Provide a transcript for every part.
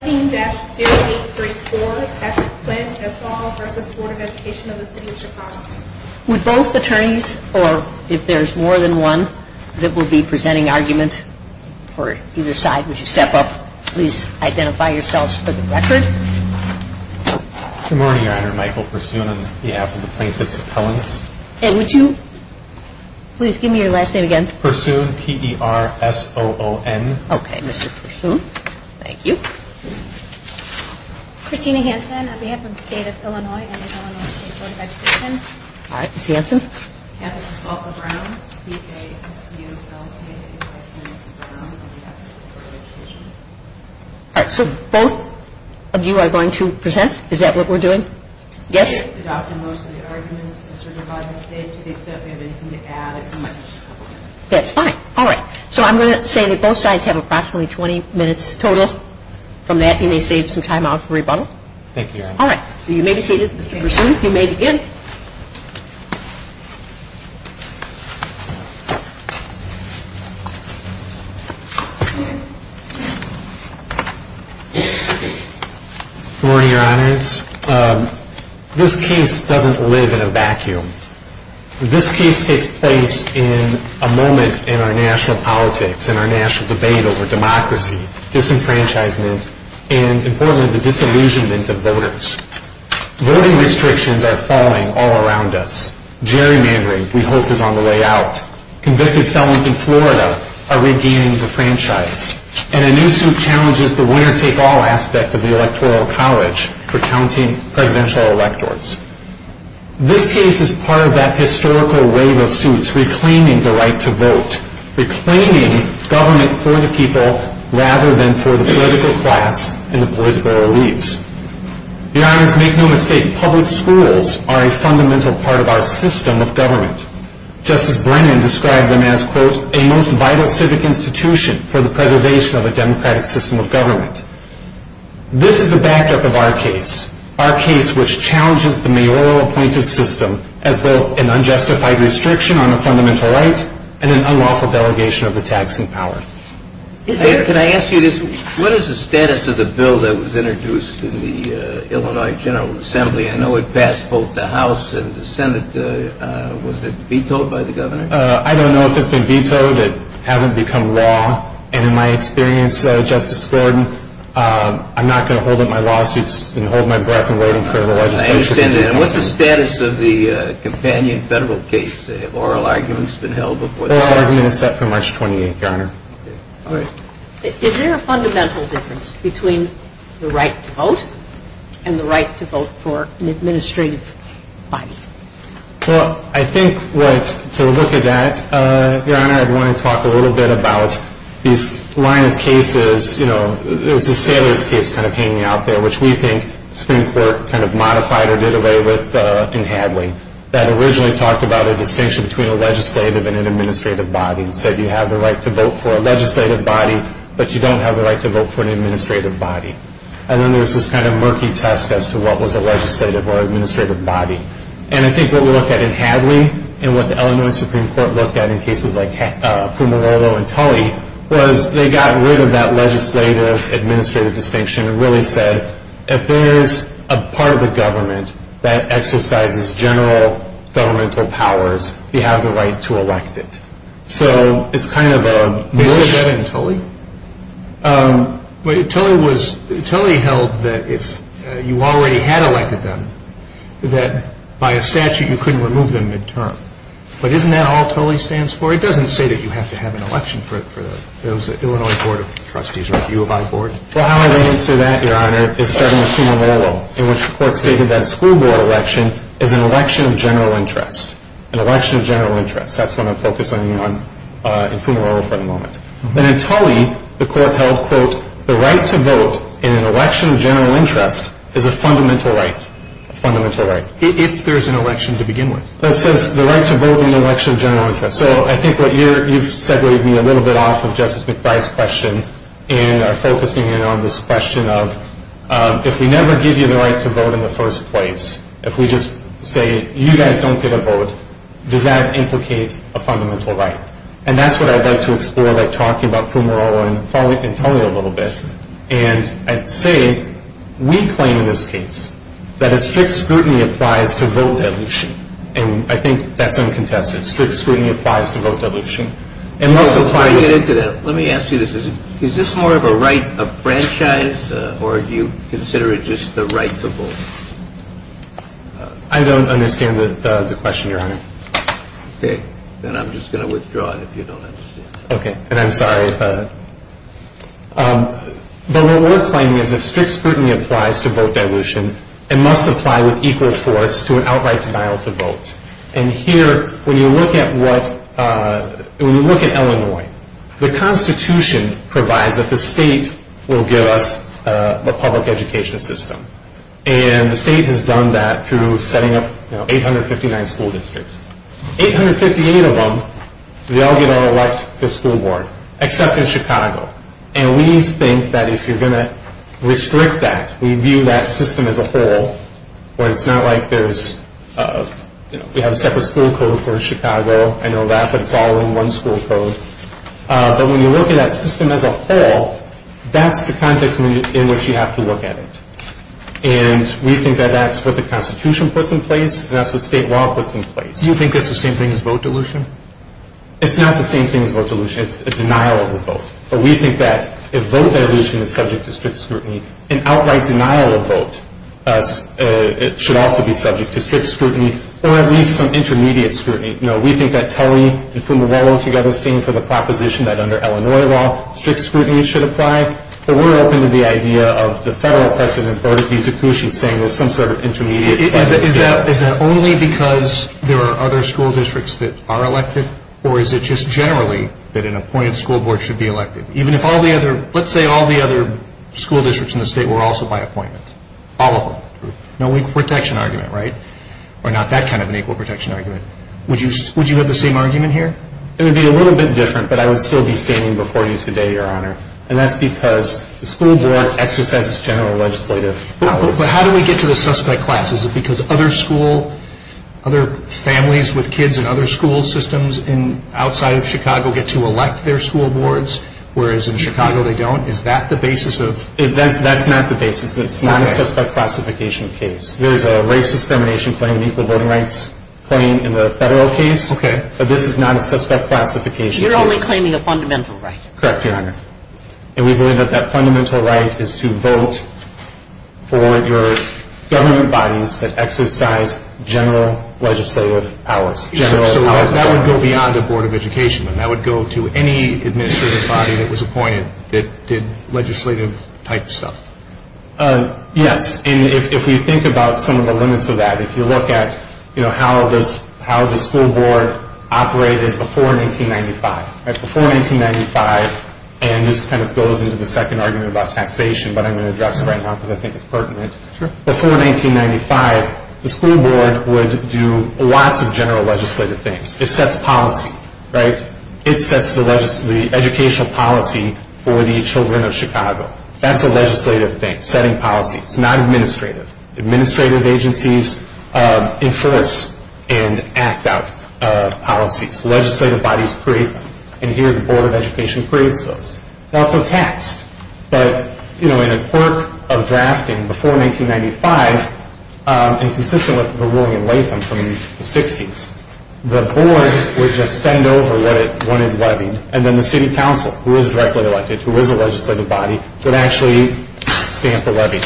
Would both attorneys, or if there's more than one, that will be presenting argument for either side, would you step up, please identify yourselves for the record. Good morning, Your Honor. Michael Pursoon on behalf of the Plaintiffs' Appellants. And would you please give me your last name again? Pursoon, P-E-R-S-O-O-N. Okay, Mr. Pursoon, thank you. Christina Hansen on behalf of the State of Illinois and the Illinois State Board of Education. All right, Ms. Hansen. Catherine Pasolpa Brown, B-K-S-U-L-P-A-N-S Brown on behalf of the Board of Education. All right, so both of you are going to present? Is that what we're doing? Yes? We've adopted most of the arguments asserted by the State to the extent we have anything to add. That's fine. All right. So I'm going to say that both sides have approximately 20 minutes total. From that, you may save some time out for rebuttal. Thank you, Your Honor. All right. So you may be seated, Mr. Pursoon. You may begin. Good morning, Your Honors. This case doesn't live in a vacuum. This case takes place in a moment in our national politics, in our national debate over democracy, disenfranchisement, and, importantly, the disillusionment of voters. Voting restrictions are falling all around us. Gerrymandering, we hope, is on the way out. Convicted felons in Florida are regaining the franchise. And a new suit challenges the winner-take-all aspect of the Electoral College for counting presidential electors. This case is part of that historical wave of suits reclaiming the right to vote, reclaiming government for the people rather than for the political class and the political elites. Your Honors, make no mistake, public schools are a fundamental part of our system of government. Justice Brennan described them as, quote, a most vital civic institution for the preservation of a democratic system of government. This is the backup of our case, our case which challenges the mayoral appointive system as both an unjustified restriction on a fundamental right and an unlawful delegation of the taxing power. Can I ask you this? What is the status of the bill that was introduced in the Illinois General Assembly? I know it passed both the House and the Senate. Was it vetoed by the governor? I don't know if it's been vetoed. It hasn't become law. And in my experience, Justice Gordon, I'm not going to hold up my lawsuits and hold my breath in waiting for the legislature to do something. I understand that. And what's the status of the companion federal case? Have oral arguments been held before that? Oral argument is set for March 28th, Your Honor. Is there a fundamental difference between the right to vote and the right to vote for an administrative body? Well, I think what to look at that, Your Honor, I'd want to talk a little bit about these line of cases, you know, there was a sailors case kind of hanging out there which we think the Supreme Court kind of modified or did away with in Hadley that originally talked about a distinction between a legislative and an administrative body and said you have the right to vote for a legislative body, but you don't have the right to vote for an administrative body. And then there was this kind of murky test as to what was a legislative or administrative body. And I think what we looked at in Hadley and what the Illinois Supreme Court looked at in cases like Fumarolo and Tully was they got rid of that legislative-administrative distinction and really said, if there is a part of the government that exercises general governmental powers, you have the right to elect it. So it's kind of a mush. They said that in Tully? Tully held that if you already had elected them, that by a statute you couldn't remove them midterm. But isn't that all Tully stands for? It doesn't say that you have to have an election for the Illinois Board of Trustees or the U of I Board. Well, how I would answer that, Your Honor, is starting with Fumarolo, in which the court stated that a school board election is an election of general interest, that's what I'm focusing on in Fumarolo for the moment. And in Tully, the court held, quote, the right to vote in an election of general interest is a fundamental right, a fundamental right. If there's an election to begin with. That says the right to vote in an election of general interest. So I think what you've segwayed me a little bit off of Justice McBride's question in focusing in on this question of if we never give you the right to vote in the first place, if we just say you guys don't get a vote, does that implicate a fundamental right? And that's what I'd like to explore by talking about Fumarolo and Tully a little bit. And I'd say we claim in this case that a strict scrutiny applies to vote dilution. And I think that's uncontested. Strict scrutiny applies to vote dilution. Let me ask you this. Is this more of a right of franchise or do you consider it just the right to vote? I don't understand the question, Your Honor. Okay. Then I'm just going to withdraw it if you don't understand. Okay. And I'm sorry. But what we're claiming is if strict scrutiny applies to vote dilution, it must apply with equal force to an outright denial to vote. And here, when you look at Illinois, the Constitution provides that the state will give us a public education system. And the state has done that through setting up 859 school districts. 858 of them, they all get to elect the school board except in Chicago. And we think that if you're going to restrict that, we view that system as a whole where it's not like there's, you know, we have a separate school code for Chicago. I know that, but it's all in one school code. But when you look at that system as a whole, that's the context in which you have to look at it. And we think that that's what the Constitution puts in place and that's what state law puts in place. Do you think that's the same thing as vote dilution? It's not the same thing as vote dilution. It's a denial of a vote. But we think that if vote dilution is subject to strict scrutiny, an outright denial of vote should also be subject to strict scrutiny or at least some intermediate scrutiny. You know, we think that Tully and Fumarolo together stand for the proposition that under Illinois law, strict scrutiny should apply. But we're open to the idea of the federal president, Bert V. Dukushin, saying there's some sort of intermediate. Is that only because there are other school districts that are elected? Or is it just generally that an appointed school board should be elected? Let's say all the other school districts in the state were also by appointment. All of them. No equal protection argument, right? Or not that kind of an equal protection argument. Would you have the same argument here? It would be a little bit different, but I would still be standing before you today, Your Honor. And that's because the school board exercises general legislative powers. But how do we get to the suspect class? Is it because other families with kids in other school systems outside of Chicago get to elect their school boards, whereas in Chicago they don't? Is that the basis of this? That's not the basis. It's not a suspect classification case. There is a race discrimination claim, an equal voting rights claim in the federal case. Okay. But this is not a suspect classification case. You're only claiming a fundamental right. Correct, Your Honor. And we believe that that fundamental right is to vote for your government bodies that exercise general legislative powers. So that would go beyond the Board of Education, then? That would go to any administrative body that was appointed that did legislative-type stuff? Yes. And if we think about some of the limits of that, if you look at how the school board operated before 1995, before 1995, and this kind of goes into the second argument about taxation, but I'm going to address it right now because I think it's pertinent. Sure. Before 1995, the school board would do lots of general legislative things. It sets policy, right? It sets the educational policy for the children of Chicago. That's a legislative thing, setting policy. It's not administrative. Administrative agencies enforce and act out policies. Legislative bodies create them, and here the Board of Education creates those. They're also taxed. But, you know, in a quirk of drafting before 1995, and consistent with the ruling in Latham from the 60s, the board would just send over what it wanted levied, and then the city council, who is directly elected, who is a legislative body, would actually stamp the levy.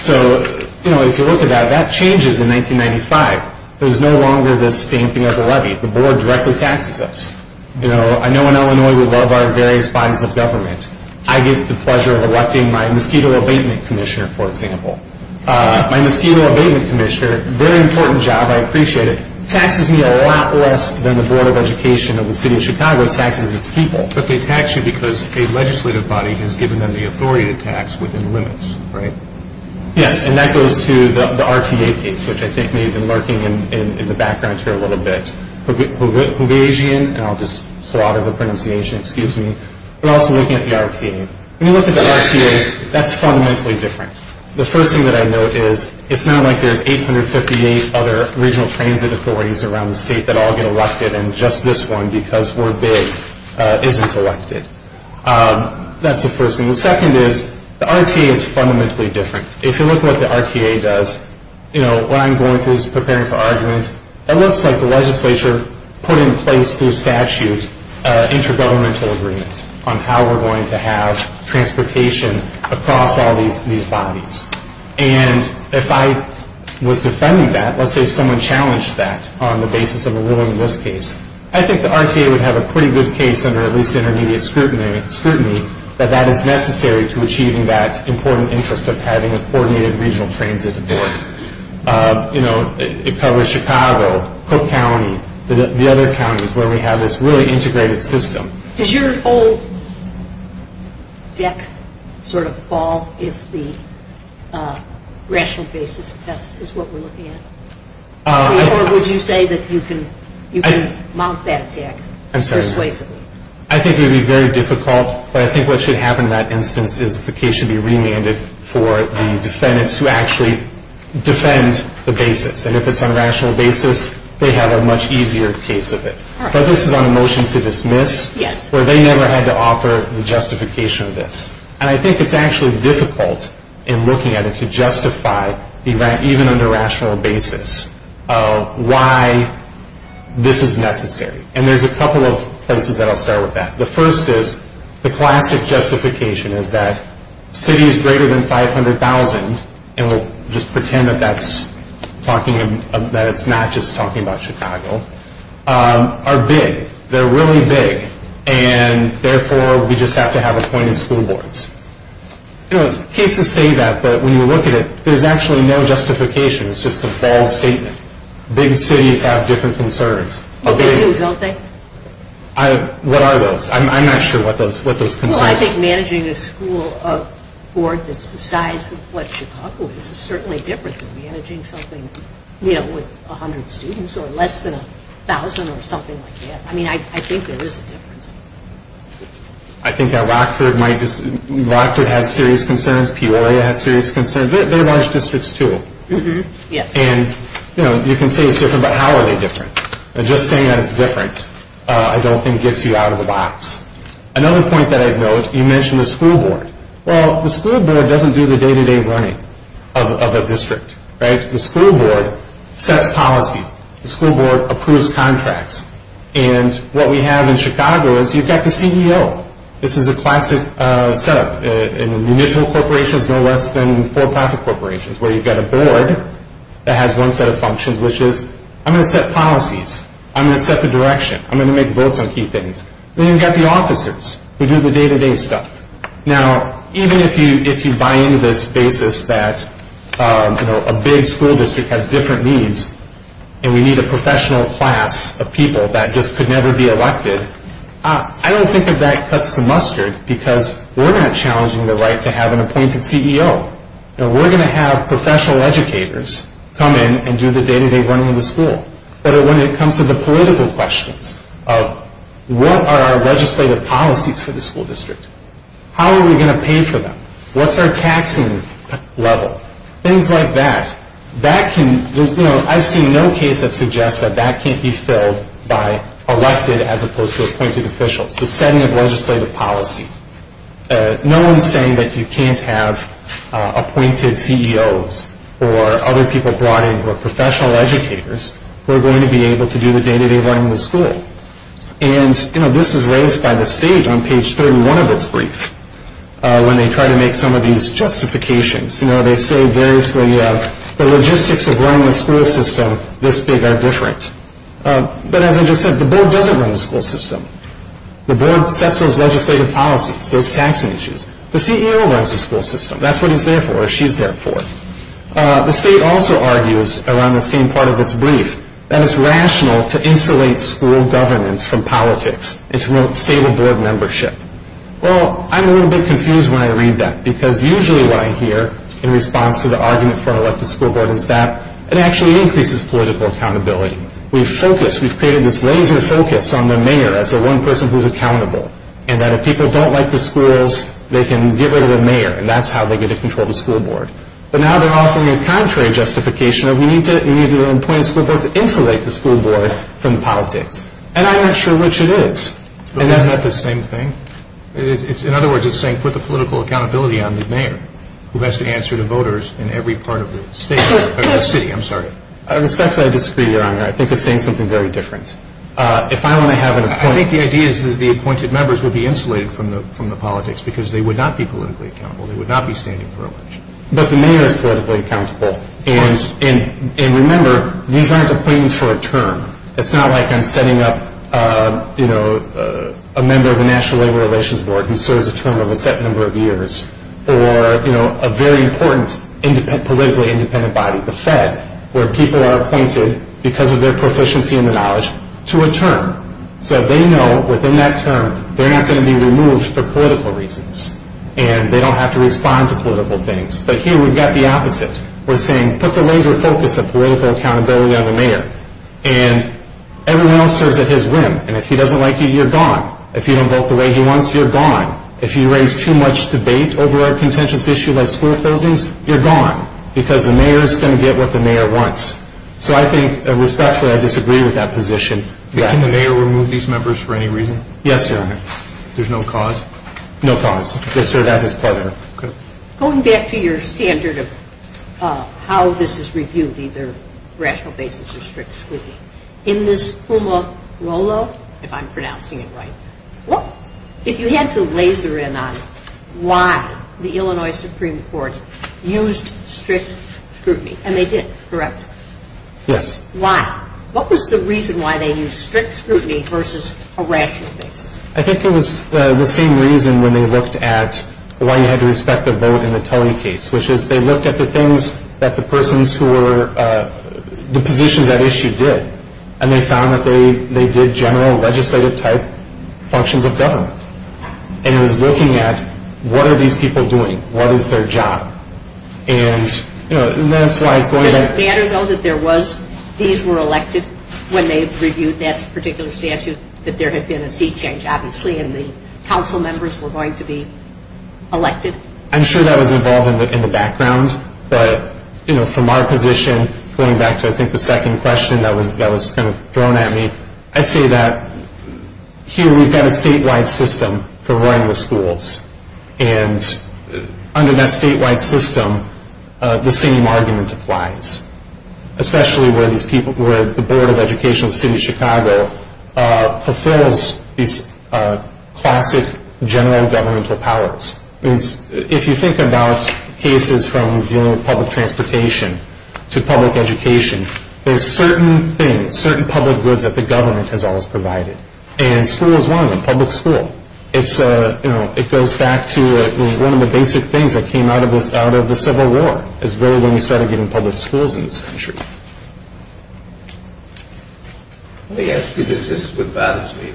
So, you know, if you look at that, that changes in 1995. There's no longer this stamping of the levy. The board directly taxes us. You know, I know in Illinois we love our various bodies of government. I get the pleasure of electing my mosquito abatement commissioner, for example. My mosquito abatement commissioner, very important job, I appreciate it, taxes me a lot less than the Board of Education of the city of Chicago taxes its people. But they tax you because a legislative body has given them the authority to tax within limits, right? Yes, and that goes to the RTA case, which I think may have been lurking in the background here a little bit. And I'll just slaughter the pronunciation, excuse me. But also looking at the RTA. When you look at the RTA, that's fundamentally different. The first thing that I note is it's not like there's 858 other regional transit authorities around the state that all get elected and just this one, because we're big, isn't elected. That's the first thing. The second is the RTA is fundamentally different. If you look at what the RTA does, you know, what I'm going through is preparing for argument. It looks like the legislature put in place through statute an intergovernmental agreement on how we're going to have transportation across all these bodies. And if I was defending that, let's say someone challenged that on the basis of a ruling in this case, I think the RTA would have a pretty good case under at least intermediate scrutiny that that is necessary to achieving that important interest of having a coordinated regional transit authority. It covers Chicago, Cook County, the other counties where we have this really integrated system. Does your whole deck sort of fall if the rational basis test is what we're looking at? Or would you say that you can mount that attack persuasively? I think it would be very difficult, but I think what should happen in that instance is the case should be remanded for the defendants who actually defend the basis. And if it's on a rational basis, they have a much easier case of it. But this is on a motion to dismiss where they never had to offer the justification of this. And I think it's actually difficult in looking at it to justify even under rational basis why this is necessary. And there's a couple of places that I'll start with that. The first is the classic justification is that cities greater than 500,000, and we'll just pretend that that's not just talking about Chicago, are big. They're really big. And therefore, we just have to have appointed school boards. Cases say that, but when you look at it, there's actually no justification. It's just a bold statement. Big cities have different concerns. Well, they do, don't they? What are those? I'm not sure what those concerns are. Well, I think managing a school board that's the size of what Chicago is is certainly different than managing something with 100 students or less than 1,000 or something like that. I mean, I think there is a difference. I think that Rockford has serious concerns. Peoria has serious concerns. They're large districts, too. And you can say it's different, but how are they different? And just saying that it's different I don't think gets you out of the box. Another point that I'd note, you mentioned the school board. Well, the school board doesn't do the day-to-day running of a district, right? The school board sets policy. The school board approves contracts. And what we have in Chicago is you've got the CEO. This is a classic setup in municipal corporations no less than for-profit corporations where you've got a board that has one set of functions, which is I'm going to set policies. I'm going to set the direction. I'm going to make votes on key things. Then you've got the officers who do the day-to-day stuff. Now, even if you buy into this basis that a big school district has different needs and we need a professional class of people that just could never be elected, I don't think that that cuts the mustard because we're not challenging the right to have an appointed CEO. We're going to have professional educators come in and do the day-to-day running of the school. But when it comes to the political questions of what are our legislative policies for the school district, how are we going to pay for them, what's our taxing level, things like that, I've seen no case that suggests that that can't be filled by elected as opposed to appointed officials, the setting of legislative policy. No one's saying that you can't have appointed CEOs or other people brought in who are professional educators who are going to be able to do the day-to-day running of the school. And this is raised by the state on page 31 of its brief when they try to make some of these justifications. They say variously, the logistics of running a school system this big are different. But as I just said, the board doesn't run the school system. The board sets those legislative policies, those taxing issues. The CEO runs the school system. That's what he's there for or she's there for. The state also argues around the same part of its brief that it's rational to insulate school governance from politics and to promote stable board membership. Well, I'm a little bit confused when I read that because usually what I hear in response to the argument from an elected school board is that it actually increases political accountability. We've created this laser focus on the mayor as the one person who's accountable and that if people don't like the schools, they can get rid of the mayor and that's how they get to control the school board. But now they're offering a contrary justification of we need to appoint a school board to insulate the school board from politics. And I'm not sure which it is. Isn't that the same thing? In other words, it's saying put the political accountability on the mayor who has to answer to voters in every part of the city. I'm sorry. Respectfully, I disagree, Your Honor. I think it's saying something very different. I think the idea is that the appointed members would be insulated from the politics because they would not be politically accountable. They would not be standing for election. But the mayor is politically accountable. And remember, these aren't appointments for a term. It's not like I'm setting up a member of the National Labor Relations Board who serves a term of a set number of years or a very important politically independent body, the Fed, where people are appointed because of their proficiency in the knowledge to a term. So they know within that term they're not going to be removed for political reasons and they don't have to respond to political things. But here we've got the opposite. We're saying put the laser focus of political accountability on the mayor and everyone else serves at his whim. And if he doesn't like you, you're gone. If you don't vote the way he wants you, you're gone. If you raise too much debate over a contentious issue like school closings, you're gone because the mayor is going to get what the mayor wants. So I think respectfully I disagree with that position. Can the mayor remove these members for any reason? Yes, sir. There's no cause? No cause. Yes, sir. That is part of it. Going back to your standard of how this is reviewed, either rational basis or strictly, in this Pumarolo, if I'm pronouncing it right, if you had to laser in on why the Illinois Supreme Court used strict scrutiny, and they did, correct? Yes. Why? What was the reason why they used strict scrutiny versus a rational basis? I think it was the same reason when they looked at why you had to respect the vote in the Tully case, which is they looked at the positions that issue did, and they found that they did general legislative-type functions of government. And it was looking at what are these people doing? What is their job? And that's why going back to the... Does it matter, though, that these were elected when they reviewed that particular statute, that there had been a seat change, obviously, and the council members were going to be elected? I'm sure that was involved in the background, but from our position, going back to, I think, the second question that was kind of thrown at me, I'd say that here we've got a statewide system for running the schools. And under that statewide system, the same argument applies, especially where the Board of Education of the City of Chicago fulfills these classic general governmental powers. If you think about cases from dealing with public transportation to public education, there's certain things, certain public goods that the government has always provided, and school is one of them, public school. It goes back to one of the basic things that came out of the Civil War is really when we started getting public schools in this country. Let me ask you this. This is what bothers me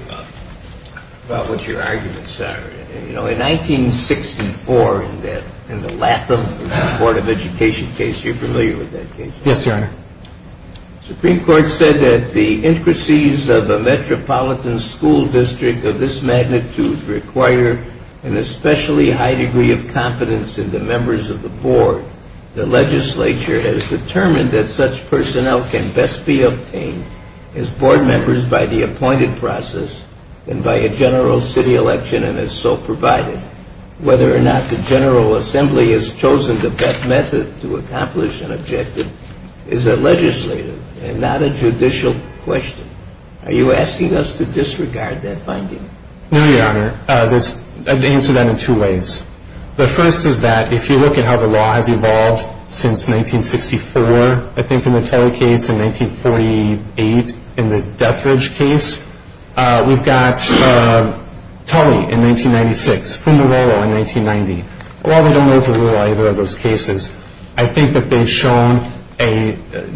about what your arguments are. In 1964, in the Latham Board of Education case, you're familiar with that case? Yes, Your Honor. The Supreme Court said that the intricacies of a metropolitan school district of this magnitude require an especially high degree of competence in the members of the board. The legislature has determined that such personnel can best be obtained as board members by the appointed process and by a general city election, and is so provided. Whether or not the General Assembly has chosen the best method to accomplish an objective is a legislative and not a judicial question. Are you asking us to disregard that finding? No, Your Honor. I'd answer that in two ways. The first is that if you look at how the law has evolved since 1964, I think, in the Teller case, in 1948, in the Dethridge case. We've got Tully in 1996, Fumarolo in 1990. While we don't know for sure either of those cases, I think that they've shown a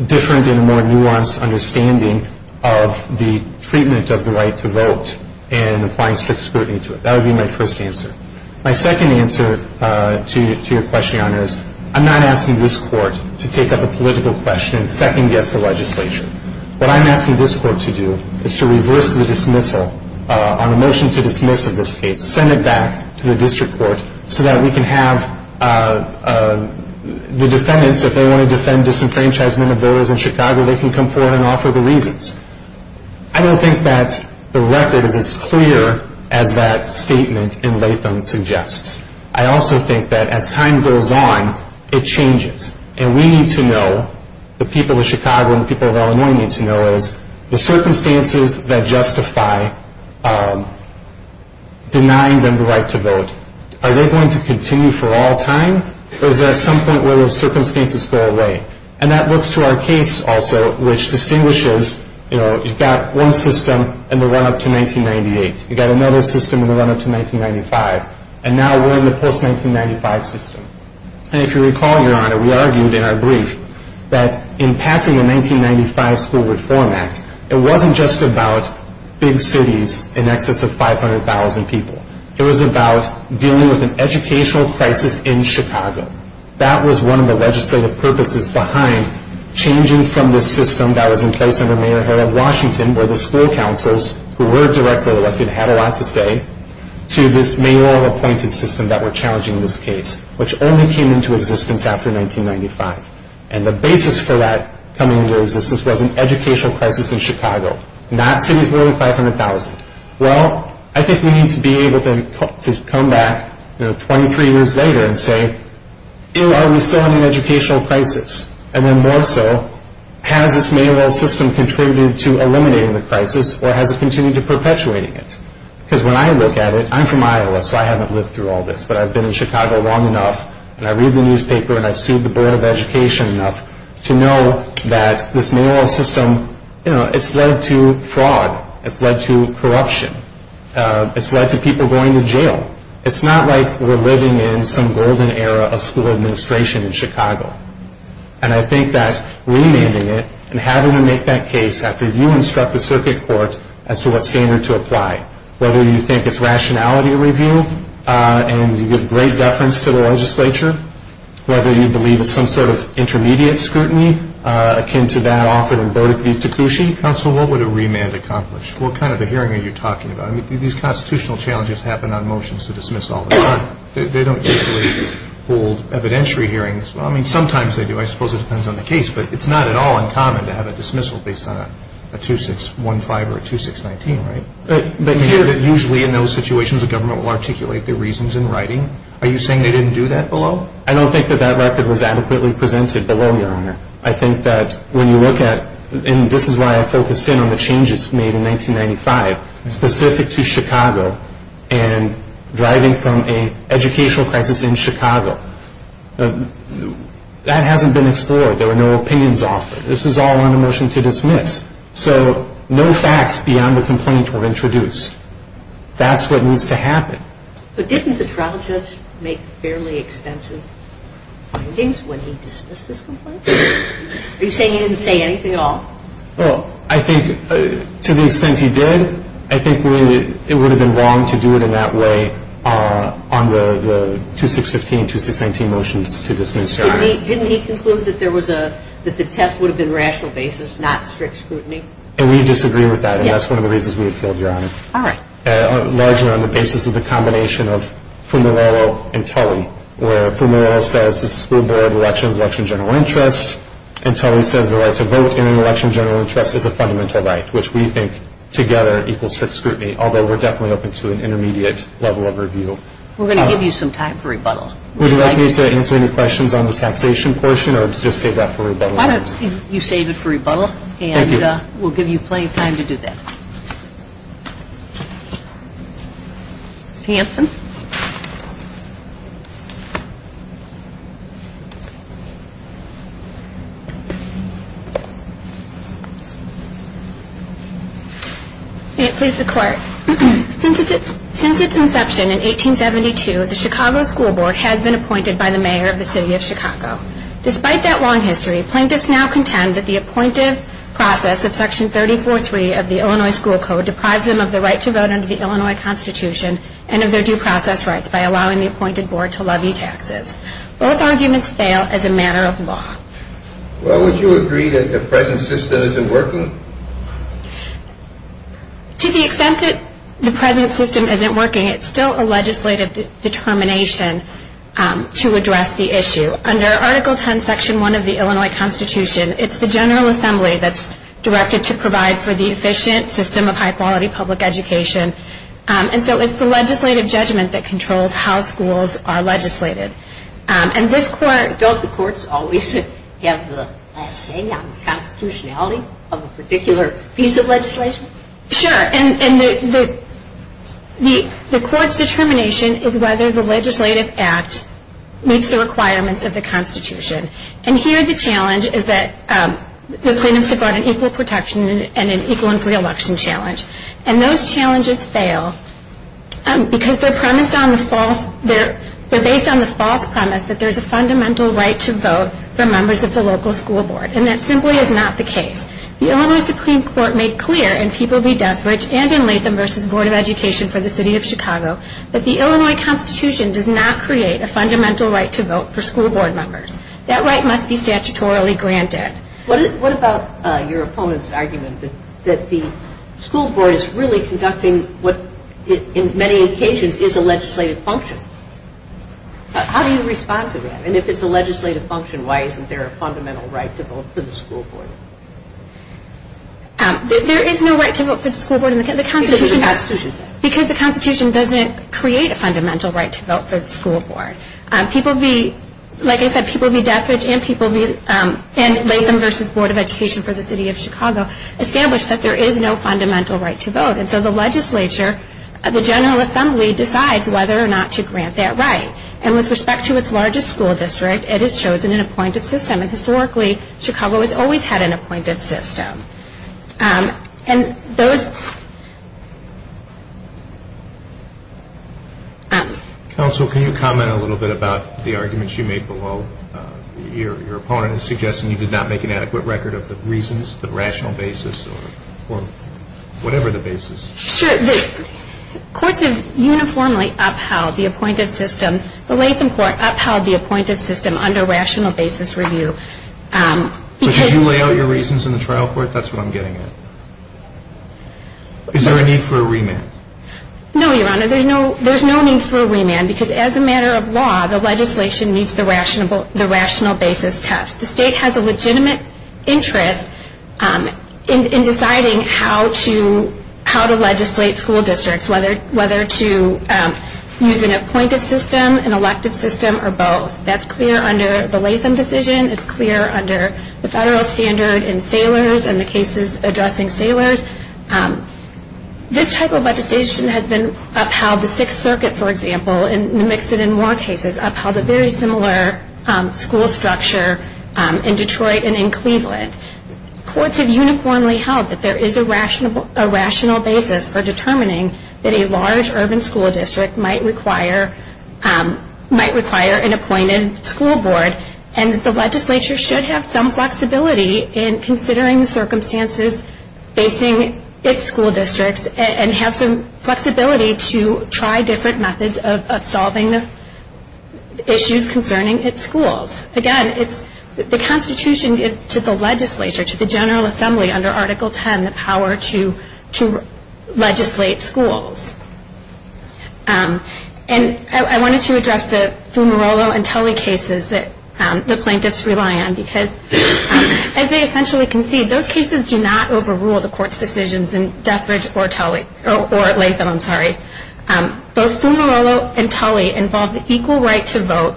different and more nuanced understanding of the treatment of the right to vote and applying strict scrutiny to it. That would be my first answer. My second answer to your question, Your Honor, is I'm not asking this court to take up a political question and second-guess the legislature. What I'm asking this court to do is to reverse the dismissal on a motion to dismiss of this case, send it back to the district court so that we can have the defendants, if they want to defend disenfranchisement of voters in Chicago, they can come forward and offer the reasons. I don't think that the record is as clear as that statement in Latham suggests. I also think that as time goes on, it changes, and we need to know, the people of Chicago and the people of Illinois need to know, is the circumstances that justify denying them the right to vote, are they going to continue for all time, or is there some point where those circumstances go away? And that looks to our case also, which distinguishes, you know, you've got one system in the run-up to 1998, you've got another system in the run-up to 1995, and now we're in the post-1995 system. And if you recall, Your Honor, we argued in our brief that in passing the 1995 School Reform Act, it wasn't just about big cities in excess of 500,000 people. It was about dealing with an educational crisis in Chicago. That was one of the legislative purposes behind changing from this system that was in place under Mayor Harold Washington, where the school councils who were directly elected had a lot to say, to this mayoral-appointed system that we're challenging in this case, which only came into existence after 1995. And the basis for that coming into existence was an educational crisis in Chicago, not cities with only 500,000. Well, I think we need to be able to come back 23 years later and say, are we still in an educational crisis? And then more so, has this mayoral system contributed to eliminating the crisis, or has it continued to perpetuating it? Because when I look at it, I'm from Iowa, so I haven't lived through all this, but I've been in Chicago long enough, and I read the newspaper, and I've sued the Board of Education enough to know that this mayoral system, you know, it's led to fraud. It's led to corruption. It's led to people going to jail. It's not like we're living in some golden era of school administration in Chicago. And I think that remanding it and having to make that case after you instruct the circuit court as to what standard to apply, whether you think it's rationality review and you give great deference to the legislature, whether you believe it's some sort of intermediate scrutiny akin to that offered in Bode v. Takushi. Counsel, what would a remand accomplish? What kind of a hearing are you talking about? I mean, these constitutional challenges happen on motions to dismiss all the time. They don't usually hold evidentiary hearings. Well, I mean, sometimes they do. I suppose it depends on the case, but it's not at all uncommon to have a dismissal based on a 2615 or a 2619, right? But usually in those situations the government will articulate their reasons in writing. Are you saying they didn't do that below? I don't think that that record was adequately presented below, Your Honor. I think that when you look at, and this is why I focused in on the changes made in 1995, specific to Chicago and driving from an educational crisis in Chicago, that hasn't been explored. There were no opinions offered. This is all on a motion to dismiss. So no facts beyond the complaint were introduced. That's what needs to happen. But didn't the trial judge make fairly extensive findings when he dismissed this complaint? Are you saying he didn't say anything at all? Well, I think to the extent he did, I think it would have been wrong to do it in that way on the 2615 and 2619 motions to dismiss, Your Honor. Didn't he conclude that the test would have been rational basis, not strict scrutiny? And we disagree with that, and that's one of the reasons we appealed, Your Honor. All right. Largely on the basis of the combination of Fumarillo and Tully, where Fumarillo says the school board elections election general interest, and Tully says the right to vote in an election general interest is a fundamental right, which we think together equals strict scrutiny, although we're definitely open to an intermediate level of review. We're going to give you some time for rebuttal. Would you like me to answer any questions on the taxation portion or just save that for rebuttal? Why don't you save it for rebuttal, and we'll give you plenty of time to do that. Hanson? May it please the Court. Since its inception in 1872, the Chicago School Board has been appointed by the mayor of the city of Chicago. Despite that long history, plaintiffs now contend that the appointed process of Section 34-3 of the Illinois School Code deprives them of the right to vote under the Illinois Constitution and of their due process rights by allowing the appointed board to levy taxes. Both arguments fail as a matter of law. Well, would you agree that the present system isn't working? To the extent that the present system isn't working, it's still a legislative determination to address the issue. Under Article 10, Section 1 of the Illinois Constitution, it's the General Assembly that's directed to provide for the efficient system of high-quality public education. And so it's the legislative judgment that controls how schools are legislated. Don't the courts always have the say on the constitutionality of a particular piece of legislation? Sure. And the court's determination is whether the legislative act meets the requirements of the constitution. And here the challenge is that the plaintiffs have brought an equal protection and an equal and free election challenge. And those challenges fail because they're based on the false premise that there's a fundamental right to vote for members of the local school board. And that simply is not the case. The Illinois Supreme Court made clear in People Be Death-Rich and in Latham v. Board of Education for the City of Chicago that the Illinois Constitution does not create a fundamental right to vote for school board members. That right must be statutorily granted. What about your opponent's argument that the school board is really conducting what in many occasions is a legislative function? How do you respond to that? And if it's a legislative function, why isn't there a fundamental right to vote for the school board? There is no right to vote for the school board because the constitution doesn't create a fundamental right to vote for the school board. Like I said, People Be Death-Rich and Latham v. Board of Education for the City of Chicago established that there is no fundamental right to vote. And so the legislature, the General Assembly, decides whether or not to grant that right. And with respect to its largest school district, it has chosen an appointed system. And historically, Chicago has always had an appointed system. And those... Counsel, can you comment a little bit about the arguments you made below? Your opponent is suggesting you did not make an adequate record of the reasons, the rational basis, or whatever the basis. Sure. The courts have uniformly upheld the appointed system. The Latham court upheld the appointed system under rational basis review because... So did you lay out your reasons in the trial court? That's what I'm getting at. Is there a need for a remand? No, Your Honor. There's no need for a remand because as a matter of law, the legislation needs the rational basis test. The state has a legitimate interest in deciding how to legislate school districts, whether to use an appointed system, an elective system, or both. That's clear under the Latham decision. It's clear under the federal standard in sailors and the cases addressing sailors. This type of legislation has been upheld. The Sixth Circuit, for example, and mix it in more cases, upheld a very similar school structure in Detroit and in Cleveland. Courts have uniformly held that there is a rational basis for determining that a large urban school district might require an appointed school board, and the legislature should have some flexibility in considering the circumstances facing its school districts and have some flexibility to try different methods of solving the issues concerning its schools. Again, the Constitution gives to the legislature, to the General Assembly under Article 10, the power to legislate schools. I wanted to address the Fumarolo and Tully cases that the plaintiffs rely on because as they essentially concede, those cases do not overrule the court's decisions in Deathridge or Latham. Both Fumarolo and Tully involve the equal right to vote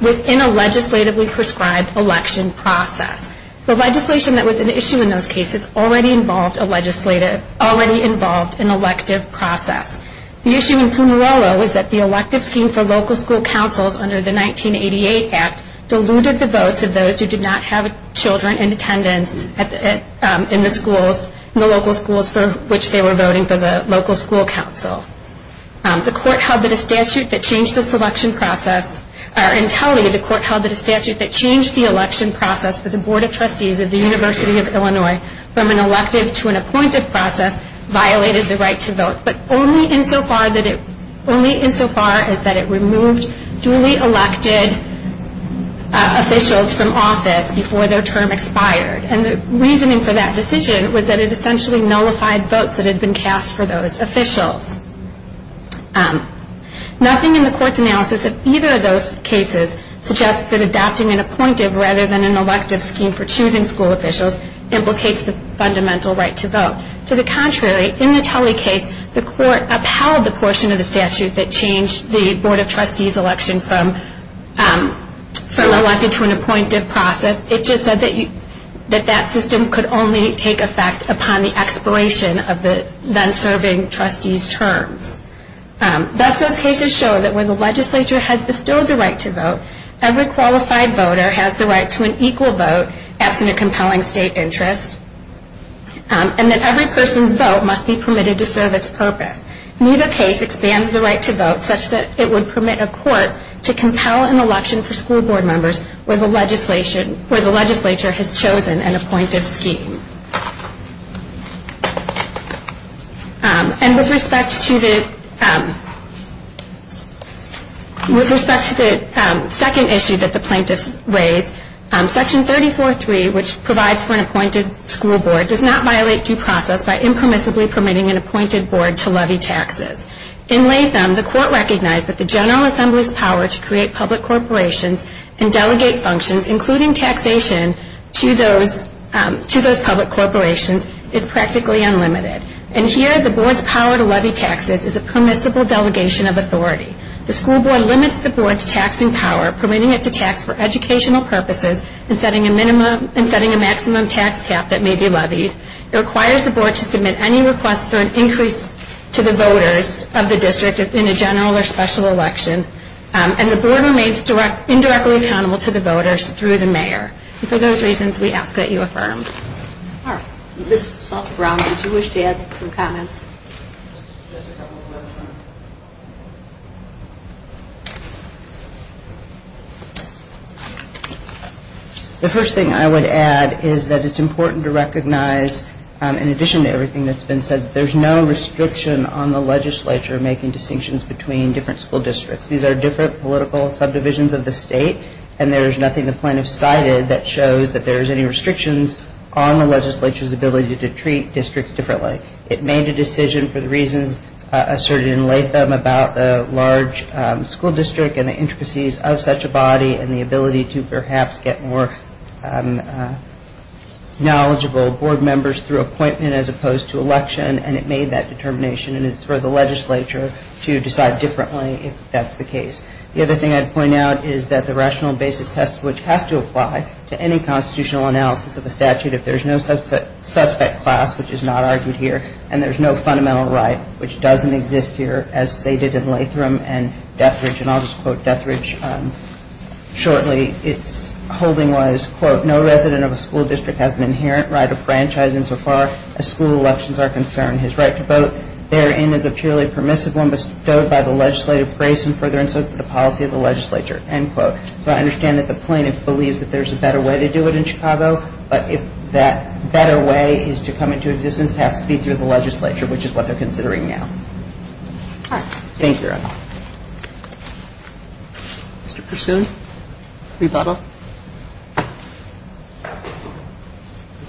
within a legislatively prescribed election process. The legislation that was an issue in those cases already involved an elective process. The issue in Fumarolo was that the elective scheme for local school councils under the 1988 Act diluted the votes of those who did not have children in attendance in the local schools for which they were voting for the local school council. The court held that a statute that changed this election process, in Tully the court held that a statute that changed the election process for the Board of Trustees of the University of Illinois from an elective to an appointed process violated the right to vote, but only insofar as that it removed duly elected officials from office before their term expired. And the reasoning for that decision was that it essentially nullified votes that had been cast for those officials. Nothing in the court's analysis of either of those cases suggests that adopting an appointive rather than an elective scheme for choosing school officials implicates the fundamental right to vote. To the contrary, in the Tully case, the court upheld the portion of the statute that changed the Board of Trustees election from an elective to an appointed process. It just said that that system could only take effect upon the expiration of the then-serving trustees' terms. Thus, those cases show that when the legislature has bestowed the right to vote, every qualified voter has the right to an equal vote, absent a compelling state interest, and that every person's vote must be permitted to serve its purpose. Neither case expands the right to vote such that it would permit a court to compel an election for school board members where the legislature has chosen an appointive scheme. And with respect to the second issue that the plaintiffs raised, Section 34.3, which provides for an appointed school board, does not violate due process by impermissibly permitting an appointed board to levy taxes. In Latham, the court recognized that the General Assembly's power to create public corporations and delegate functions, including taxation to those public corporations, is practically unlimited. And here, the board's power to levy taxes is a permissible delegation of authority. The school board limits the board's taxing power, permitting it to tax for educational purposes and setting a maximum tax cap that may be levied. It requires the board to submit any request for an increase to the voters of the district in a general or special election, and the board remains indirectly accountable to the voters through the mayor. And for those reasons, we ask that you affirm. Ms. Salter-Brown, did you wish to add some comments? The first thing I would add is that it's important to recognize, in addition to everything that's been said, there's no restriction on the legislature making distinctions between different school districts. These are different political subdivisions of the state, and there's nothing the plaintiffs cited that shows that there's any restrictions on the legislature's ability to treat districts differently. It made a decision for the reasons asserted in Latham about the large school district and the intricacies of such a body and the ability to perhaps get more knowledgeable board members through appointment as opposed to election, and it made that determination, and it's for the legislature to decide differently if that's the case. The other thing I'd point out is that the rational basis test, which has to apply to any constitutional analysis of a statute, if there's no suspect class, which is not argued here, and there's no fundamental right, which doesn't exist here, as stated in Latham and Deathridge, and I'll just quote Deathridge shortly. Its holding was, quote, no resident of a school district has an inherent right of franchise insofar as school elections are concerned. His right to vote therein is a purely permissive one bestowed by the legislative grace and further insult to the policy of the legislature, end quote. So I understand that the plaintiff believes that there's a better way to do it in Chicago, but if that better way is to come into existence, it has to be through the legislature, which is what they're considering now. All right. Thank you. Mr. Persun, rebuttal.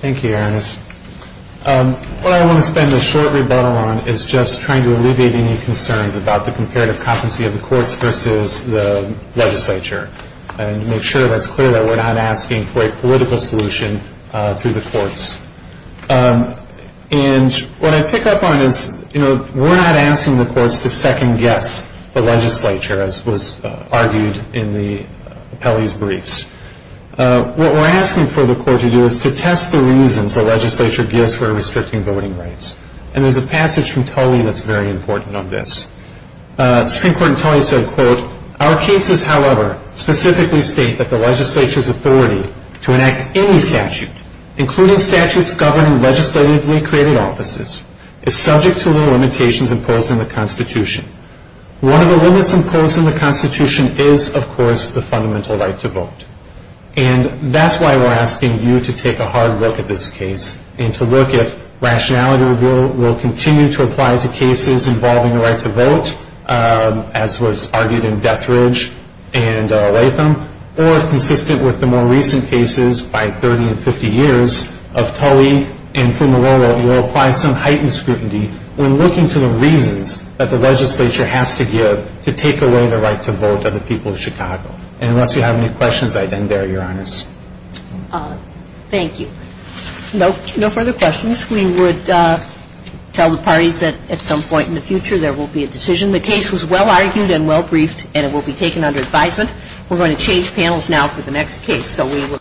Thank you, Erin. What I want to spend a short rebuttal on is just trying to alleviate any concerns about the comparative competency of the courts versus the legislature and make sure that's clear that we're not asking for a political solution through the courts. And what I pick up on is, you know, we're not asking the courts to second-guess the legislature, as was argued in the appellee's briefs. What we're asking for the court to do is to test the reasons the legislature gives for restricting voting rights, and there's a passage from Tully that's very important on this. Supreme Court in Tully said, quote, our cases, however, specifically state that the legislature's authority to enact any statute, including statutes governing legislatively created offices, is subject to the limitations imposed in the Constitution. One of the limits imposed in the Constitution is, of course, the fundamental right to vote. And that's why we're asking you to take a hard look at this case and to look if rationality will continue to apply to cases involving the right to vote, as was argued in Dethridge and Latham, or consistent with the more recent cases by 30 and 50 years of Tully and from the low vote, you'll apply some heightened scrutiny when looking to the reasons that the legislature has to give to take away the right to vote of the people of Chicago. And unless you have any questions, I'd end there, Your Honors. Thank you. No further questions. We would tell the parties that at some point in the future there will be a decision. The case was well argued and well briefed, and it will be taken under advisement. We're going to change panels now for the next case.